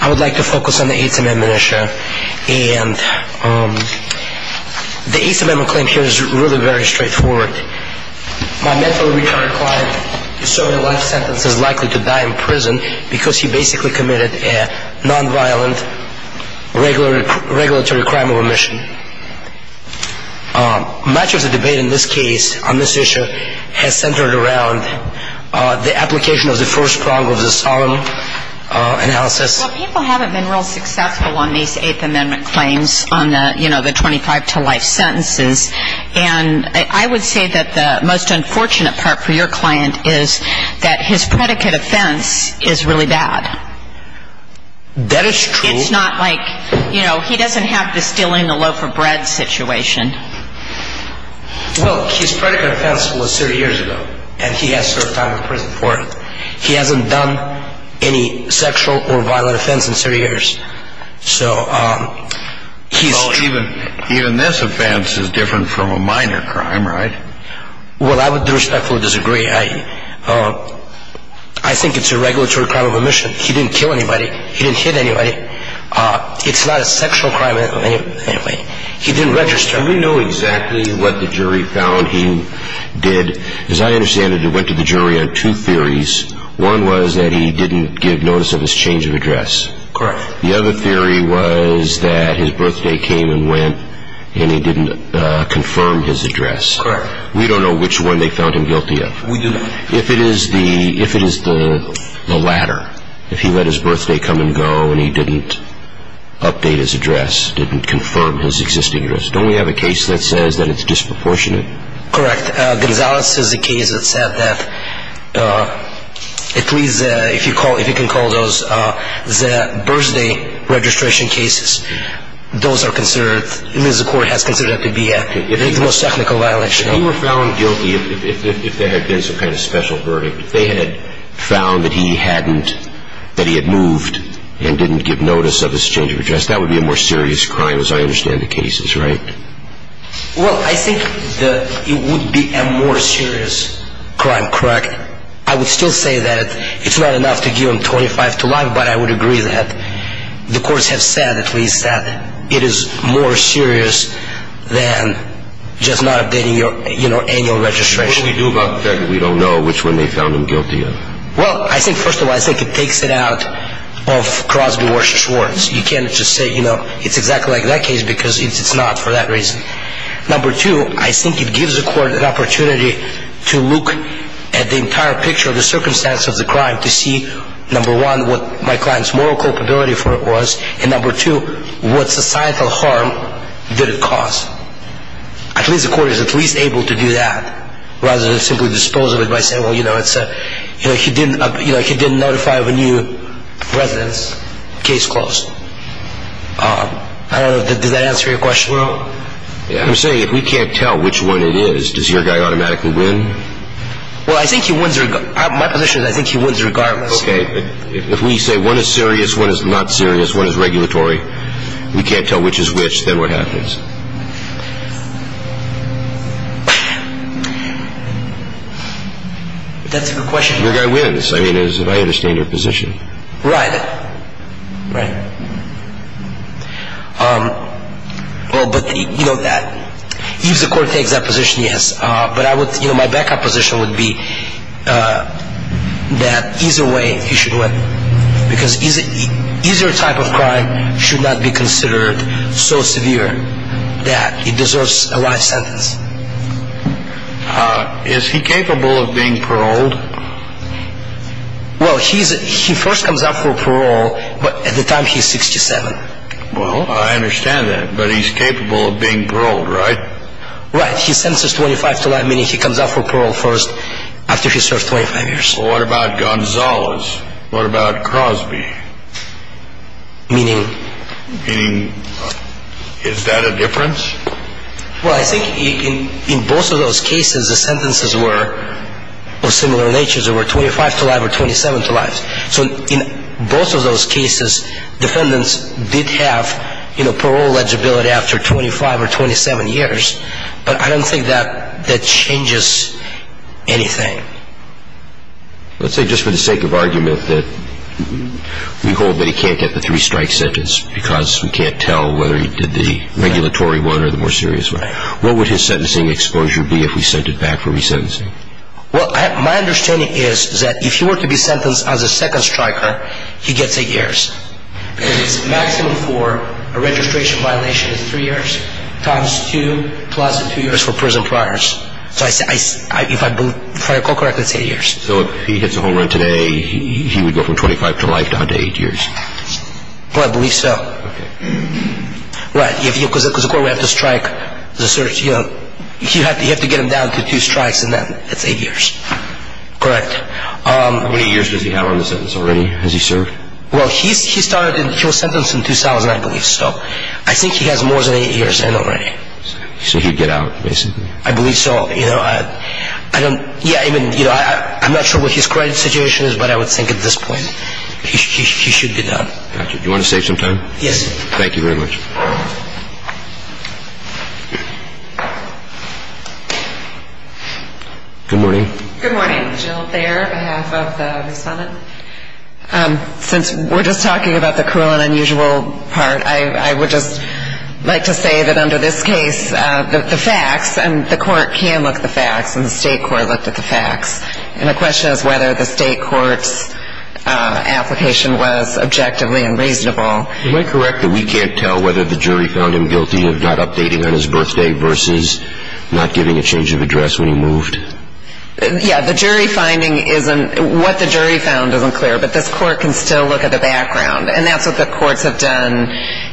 I would like to focus on the 8th Amendment issue. The 8th Amendment claim here is really very straightforward. My mentally retarded client is serving a life sentence and is likely to die in prison because he basically committed a non-violent regulatory crime of remission. Much of the debate in this case, on this issue, has centered around the application of the first prong of the solemn analysis. Well, people haven't been real successful on these 8th Amendment claims, on the 25 to life sentences. And I would say that the most unfortunate part for your client is that his predicate offense is really bad. That is true. I mean, it's not like, you know, he doesn't have the stealing the loaf of bread situation. Well, his predicate offense was 30 years ago and he has served time in prison for it. He hasn't done any sexual or violent offense in 30 years. So even this offense is different from a minor crime, right? Well, I would respectfully disagree. I think it's a regulatory crime of remission. He didn't kill anybody. He didn't hit anybody. It's not a sexual crime in any way. He didn't register. Do we know exactly what the jury found he did? As I understand it, it went to the jury on two theories. One was that he didn't give notice of his change of address. Correct. The other theory was that his birthday came and went and he didn't confirm his address. Correct. We don't know which one they found him guilty of. We do not. If it is the latter, if he let his birthday come and go and he didn't update his address, didn't confirm his existing address, don't we have a case that says that it's disproportionate? Correct. Gonzalez is a case that said that at least if you can call those the birthday registration cases, those are considered, the court has considered that to be the most technical violation. If he were found guilty, if there had been some kind of special verdict, if they had found that he hadn't, that he had moved and didn't give notice of his change of address, that would be a more serious crime as I understand the cases, right? Well, I think that it would be a more serious crime, correct? I would still say that it's not enough to give him 25 to life, but I would agree that the courts have said at least that it is more serious than just not updating your annual registration. What do we do about the fact that we don't know which one they found him guilty of? Well, I think first of all, I think it takes it out of Crosby, Warshaw, Schwartz. You can't just say it's exactly like that case because it's not for that reason. Number two, I think it gives the court an opportunity to look at the entire picture of the circumstance of the crime to see, number one, what my client's moral culpability for it was, and number two, what societal harm did it cause? At least the court is at least able to do that rather than simply dispose of it by saying, well, you know, it's a, you know, he didn't, you know, he didn't notify of a new residence, case closed. I don't know, does that answer your question? Well, I'm saying if we can't tell which one it is, does your guy automatically win? Well, I think he wins, my position is I think he wins regardless. Okay. If we say one is serious, one is not serious, one is regulatory, we can't tell which is which, then what happens? That's a good question. Your guy wins. I mean, as I understand your position. Right. Right. Well, but, you know, that, if the court takes that position, yes, but I think the backup position would be that either way he should win because either type of crime should not be considered so severe that it deserves a life sentence. Is he capable of being paroled? Well, he's, he first comes up for parole, but at the time he's 67. Well, I understand that, but he's capable of being paroled, right? Right. He sentences 25 to life, meaning he comes up for parole first after he serves 25 years. Well, what about Gonzalez? What about Crosby? Meaning? Meaning, is that a difference? Well, I think in both of those cases, the sentences were of similar nature. They were 25 to life or 27 to life. So in both of those cases, defendants did have, you know, parole legibility after 25 or 27 years. But I don't think that that changes anything. Let's say, just for the sake of argument, that we hold that he can't get the three-strike sentence because we can't tell whether he did the regulatory one or the more serious one. Right. What would his sentencing exposure be if we sent it back for resentencing? Well, my understanding is that if he were to be sentenced as a second striker, he gets eight years. Because his maximum for a registration violation is three years, times two, plus the two years for prison priors. So if I recall correctly, it's eight years. So if he hits a home run today, he would go from 25 to life down to eight years? Well, I believe so. Okay. Right. Because of course we have to strike the search, you know. You have to get him down to two strikes and then it's eight years. Correct. How many years does he have on the sentence already? Has he served? Well, he started, he was sentenced in 2000, I believe. So I think he has more than eight years in already. So he'd get out, basically. I believe so. You know, I don't, yeah, I mean, you know, I'm not sure what his current situation is, but I would think at this point he should be done. Do you want to save some time? Yes, sir. Thank you very much. Good morning. Good morning. Jill Thayer, on behalf of the respondent. Since we're just talking about the cruel and unusual part, I would just like to say that under this case, the facts, and the court can look at the facts, and the state court looked at the facts. And the question is whether the state court's application was objectively and reasonable. Am I correct that we can't tell whether the jury found him guilty of not updating on his birthday versus not giving a change of address when he moved? Yeah, the jury finding isn't, what the jury found isn't clear, but this court can still look at the background. And that's what the courts have done.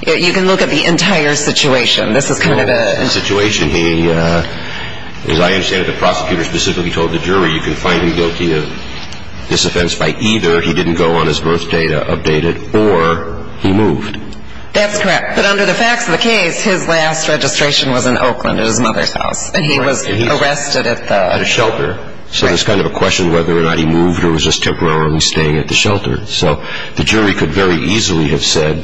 You can look at the entire situation. This is kind of a... The whole situation, he, as I understand it, the prosecutor specifically told the jury, you can find him guilty of this offense by either he didn't go on his birthday to update it, or he moved. That's correct. But under the facts of the case, his last registration was in Oakland at his mother's house. And he was arrested at the... At a shelter. So there's kind of a question whether or not he moved or was just temporarily staying at the shelter. So the jury could very easily have said,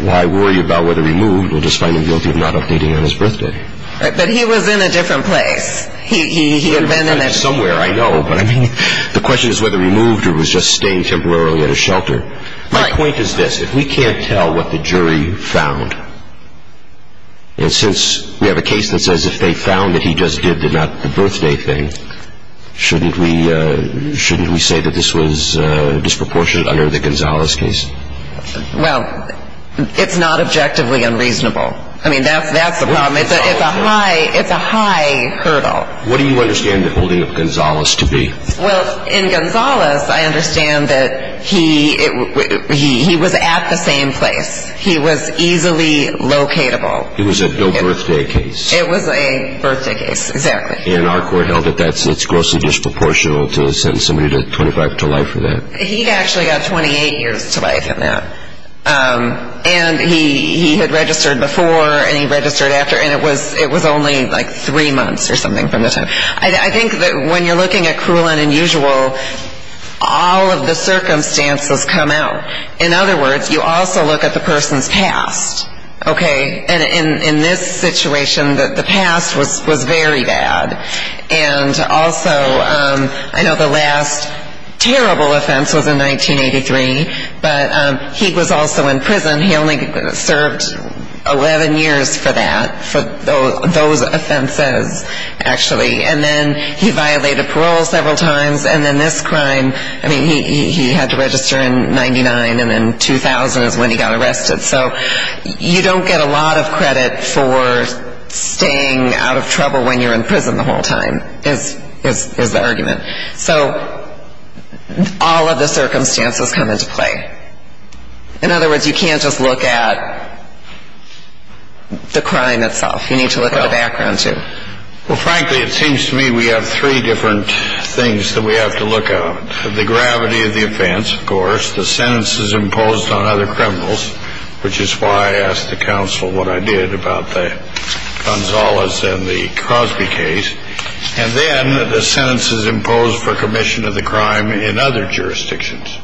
why worry about whether he moved, we'll just find him guilty of not updating on his birthday. But he was in a different place. He had been in a... Somewhere, I know. But I mean, the question is whether he moved or was just staying temporarily at a shelter. My point is this. If we can't tell what the jury found, and since we have a case that says if they found that he just did the not the birthday thing, shouldn't we say that this was disproportionate under the Gonzales case? Well, it's not objectively unreasonable. I mean, that's the problem. It's a high hurdle. What do you understand the holding of Gonzales to be? Well, in Gonzales, I understand that he was at the same place. He was easily locatable. It was a no birthday case. It was a birthday case, exactly. And our court held that it's grossly disproportional to sentence somebody to 25 to life for that. He actually got 28 years to life in that. And he had registered before and he registered after. And it was only like three months or something from the time. I think that when you're looking at cruel and unusual, all of the circumstances come out. In other words, you also look at the person's past. Okay? And in this situation, the past was very bad. And also, I know the last terrible offense was in 1983, but he was also in prison. He only served 11 years for that, for those offenses, actually. And then he violated parole several times. And then this crime, I mean, he had to register in 99 and then 2000 is when he got arrested. So you don't get a lot of credit for staying out of trouble when you're in prison the whole time is the argument. So all of the circumstances come into play. In other words, you can't just look at the crime itself. You need to look at the background, too. Well, frankly, it seems to me we have three different things that we have to look at. The gravity of the offense, of course. The sentences imposed on other criminals, which is why I asked the counsel what I did about the Gonzales and the Crosby case. And then the sentences imposed for commission of the crime in other jurisdictions.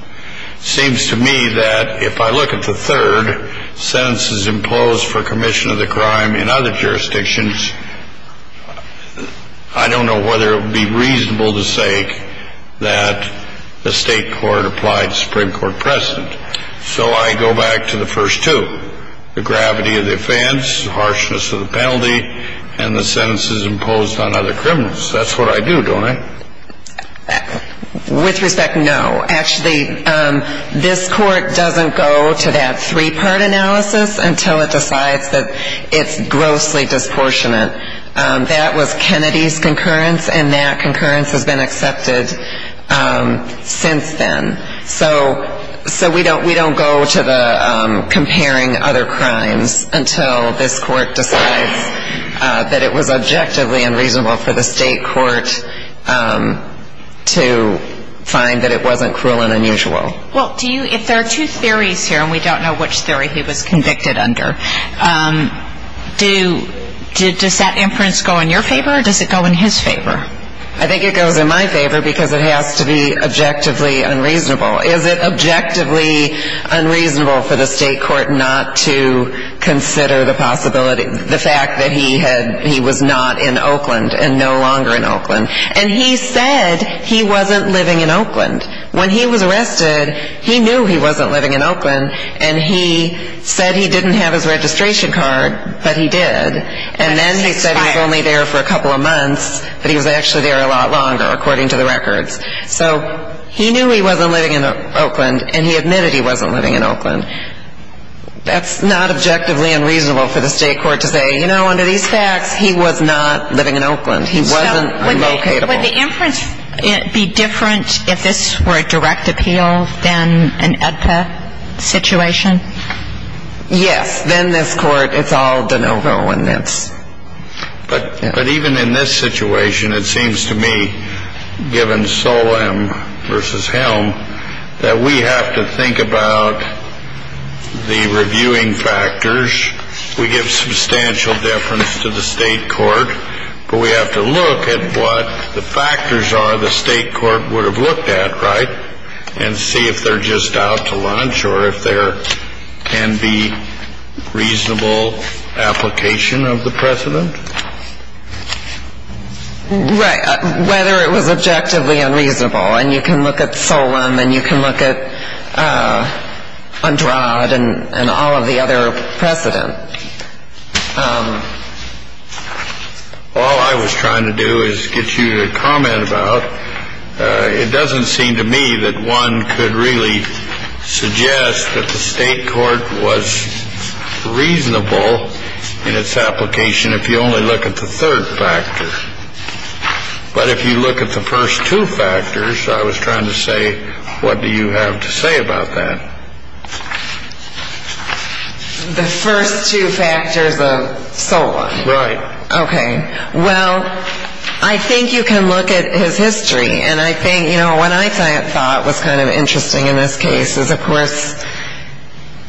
It seems to me that if I look at the third, sentences imposed for commission of the crime in other jurisdictions, I don't know whether it would be reasonable to say that the state court applied the Supreme Court precedent. So I go back to the first two. The gravity of the offense, the harshness of the penalty, and the sentences imposed on other criminals. That's what I do, don't I? With respect, no. Actually, this court doesn't go to that three-part analysis until it decides that it's grossly disproportionate. That was Kennedy's concurrence, and that concurrence has been accepted since then. So we don't go to the comparing other crimes until this court decides that it was objectively unreasonable for the state court to find that it wasn't cruel and unusual. Well, if there are two theories here, and we don't know which theory he was convicted under, does that inference go in your favor, or does it go in his favor? I think it goes in my favor, because it has to be objectively unreasonable. Is it objectively unreasonable for the state court not to consider the possibility, the fact that he was not in Oakland, and no longer in Oakland? And he said he wasn't living in Oakland. When he was arrested, he knew he wasn't living in Oakland, and he said he didn't have his registration card, but he did. And then he said he was only there for a couple of months, but he was actually there a lot longer, according to the records. So he knew he wasn't living in Oakland, and he admitted he wasn't living in Oakland. That's not objectively unreasonable for the state court to say, you know, under these facts, he was not living in Oakland. He wasn't relocatable. So would the inference be different if this were a direct appeal than an EDPA situation? Yes. Then this court, it's all de novo in this. But even in this situation, it seems to me, given Solem v. Helm, that we have to think about the reviewing factors. We give substantial difference to the state court, but we have to look at what the factors are the state court would have looked at, right? And see if they're just out to lunch, or if there can be reasonable application of the precedent? Right. Whether it was objectively unreasonable. And you can look at Solem, and you can look at Andrade, and all of the other precedent. All I was trying to do is get you to comment about, it doesn't seem to me that one could really suggest that the state court was reasonable in its application if you only look at the third factor. But if you look at the first two factors, I was trying to say, what do you have to say about that? The first two factors of Solem? Right. Okay. Well, I think you can look at his history. And I think, you know, what I thought was kind of interesting in this case is, of course,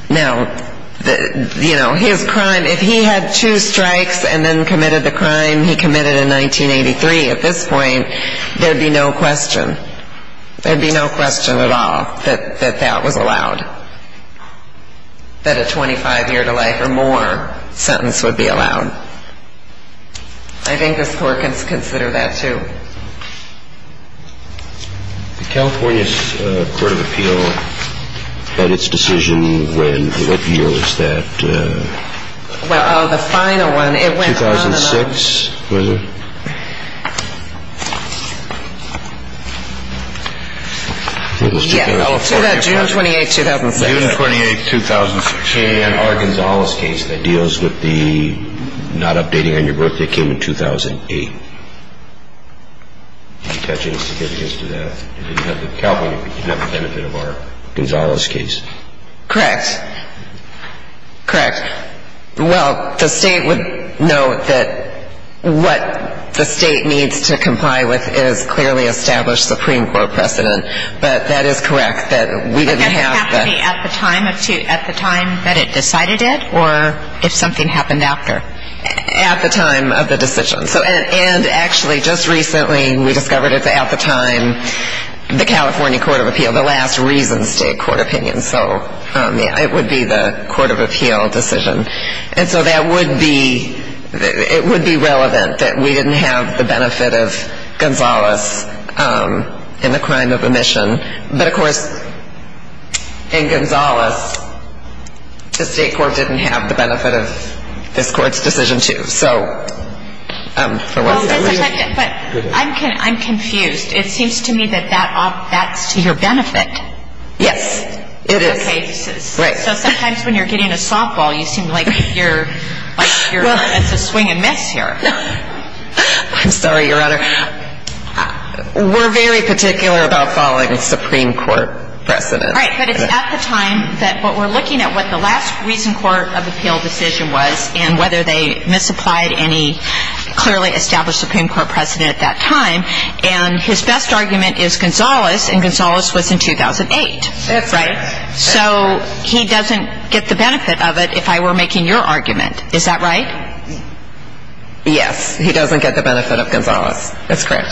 now, you know, his crime, if he had two strikes and then committed the crime he committed in 1983 at this point, there'd be no question. There'd be no question at all that that was allowed. That a 25-year-to-life or more sentence would be allowed. I think the court can consider that, too. The California Court of Appeal had its decision when? What year was that? Well, the final one, it went on and on. 2006, was it? Yes. June 28, 2006. June 28, 2006. And our Gonzales case that deals with the not updating on your birthday came in 2008. Did you touch any significance to that? You didn't have the benefit of our Gonzales case. Correct. Correct. Well, the state would know that what the state needs to comply with is clearly established Supreme Court precedent. But that is correct that we didn't have that. Only at the time that it decided it or if something happened after? At the time of the decision. And actually, just recently, we discovered at the time the California Court of Appeal, the last reason state court opinion, so it would be the Court of Appeal decision. And so that would be, it would be relevant that we didn't have the benefit of Gonzales in the crime of omission. But of course, in Gonzales, the state court didn't have the benefit of this court's decision, too. I'm confused. It seems to me that that's to your benefit. Yes, it is. So sometimes when you're getting a softball, you seem like you're, it's a swing and miss here. I'm sorry, Your Honor. We're very particular about following Supreme Court precedent. Right, but it's at the time that, but we're looking at what the last reason court of appeal decision was and whether they misapplied any clearly established Supreme Court precedent at that time. And his best argument is Gonzales, and Gonzales was in 2008. That's right. So he doesn't get the benefit of it if I were making your argument. Is that right? Yes, he doesn't get the benefit of Gonzales. That's correct.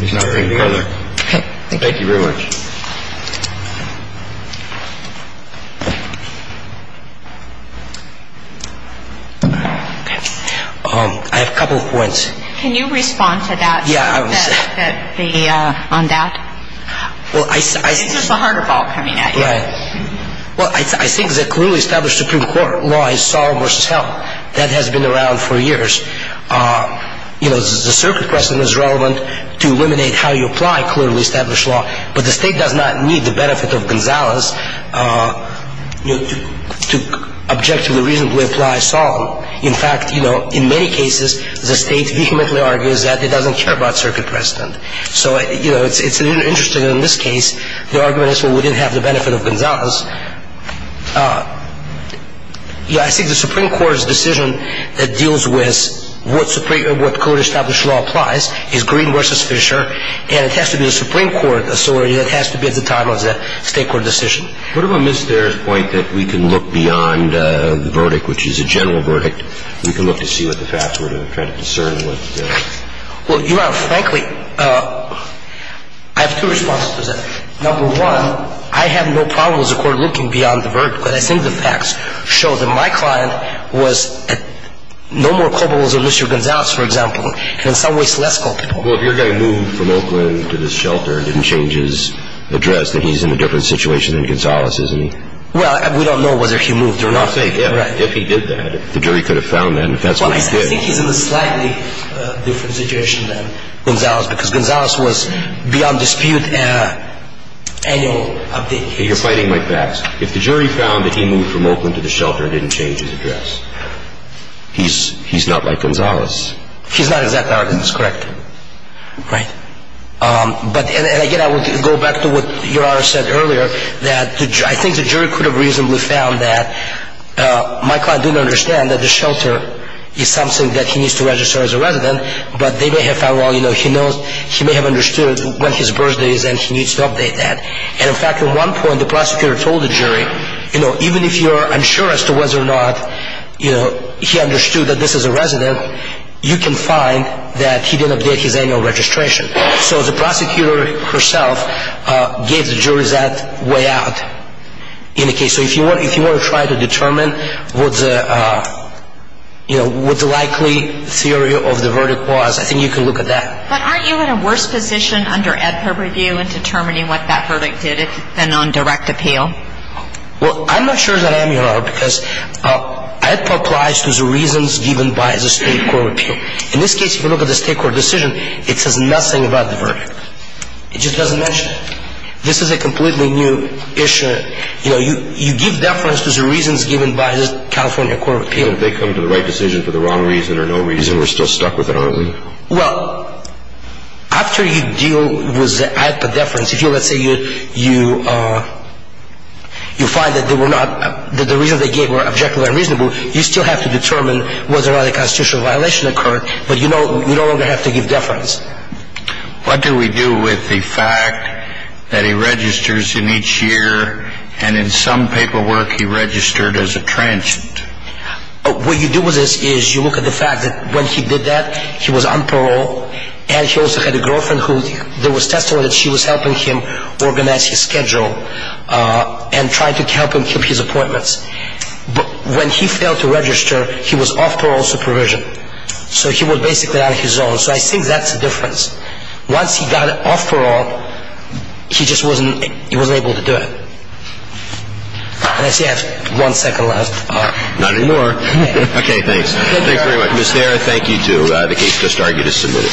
He's not ready to go there. Okay, thank you. Thank you very much. I have a couple of points. Can you respond to that? Yeah, I will say. That the, on that? Well, I. Is this a harder ball coming at you? Well, I think the clearly established Supreme Court law is solemn versus held. That has been around for years. You know, the circuit precedent is relevant to eliminate how you apply clearly established law, but the state does not need the benefit of Gonzales to objectively reasonably apply solemn. In fact, you know, in many cases, the state vehemently argues that it doesn't care about circuit precedent. So, you know, it's interesting in this case, the argument is, well, we didn't have the benefit of Gonzales. Yeah, I think the Supreme Court's decision that deals with what code established law applies is green versus fissure, and it has to be the Supreme Court authority that has to bid the time of the state court decision. What about Ms. Dare's point that we can look beyond the verdict, which is a general verdict? We can look to see what the facts were to try to discern what. Well, Your Honor, frankly, I have two responses to that. Number one, I have no problem as a court looking beyond the verdict, but I think the facts show that my client was no more culpable than Mr. Gonzales, for example, and in some ways less culpable. Well, if your guy moved from Oakland to this shelter and didn't change his address, then he's in a different situation than Gonzales, isn't he? Well, we don't know whether he moved or not. Right. If he did that, the jury could have found that. Well, I think he's in a slightly different situation than Gonzales because Gonzales was beyond dispute in an annual update case. You're fighting my facts. If the jury found that he moved from Oakland to the shelter and didn't change his address, he's not like Gonzales. He's not exactly like Gonzales, correct. Right. But again, I would go back to what Your Honor said earlier, that I think the jury could have reasonably found that my client didn't understand that the shelter is something that he needs to register as a resident, but they may have found, well, you know, he knows, he may have understood when his birthday is and he needs to update that. And in fact, at one point, the prosecutor told the jury, you know, even if you're unsure as to whether or not, you know, he understood that this is a resident, you can find that he didn't update his annual registration. So the prosecutor herself gave the jury that way out in the case. So if you want to try to determine what the, you know, what the likely theory of the verdict was, I think you can look at that. But aren't you in a worse position under AEDPA review in determining what that verdict did than on direct appeal? Well, I'm not sure that I am, Your Honor, because AEDPA applies to the reasons given by the State Court of Appeal. In this case, if you look at the State Court decision, it says nothing about the verdict. It just doesn't mention it. This is a completely new issue. You know, you give deference to the reasons given by the California Court of Appeal. And if they come to the right decision for the wrong reason or no reason, we're still stuck with it, aren't we? Well, after you deal with the AEDPA deference, if you, let's say, you find that they were not, that the reasons they gave were objectively unreasonable, you still have to determine whether or not a constitutional violation occurred, but you no longer have to give deference. What do we do with the fact that he registers in each year and in some paperwork he registered as a transient? What you do with this is you look at the fact that when he did that, he was on parole, and he also had a girlfriend who, there was testimony that she was helping him organize his schedule and trying to help him keep his appointments. But when he failed to register, he was off parole supervision. So he was basically out of his zone. So I think that's the difference. Once he got off parole, he just wasn't, he wasn't able to do it. And I see I have one second left. Not anymore. Okay, thanks. Thank you very much. Ms. Thera, thank you, too. The case just argued is submitted.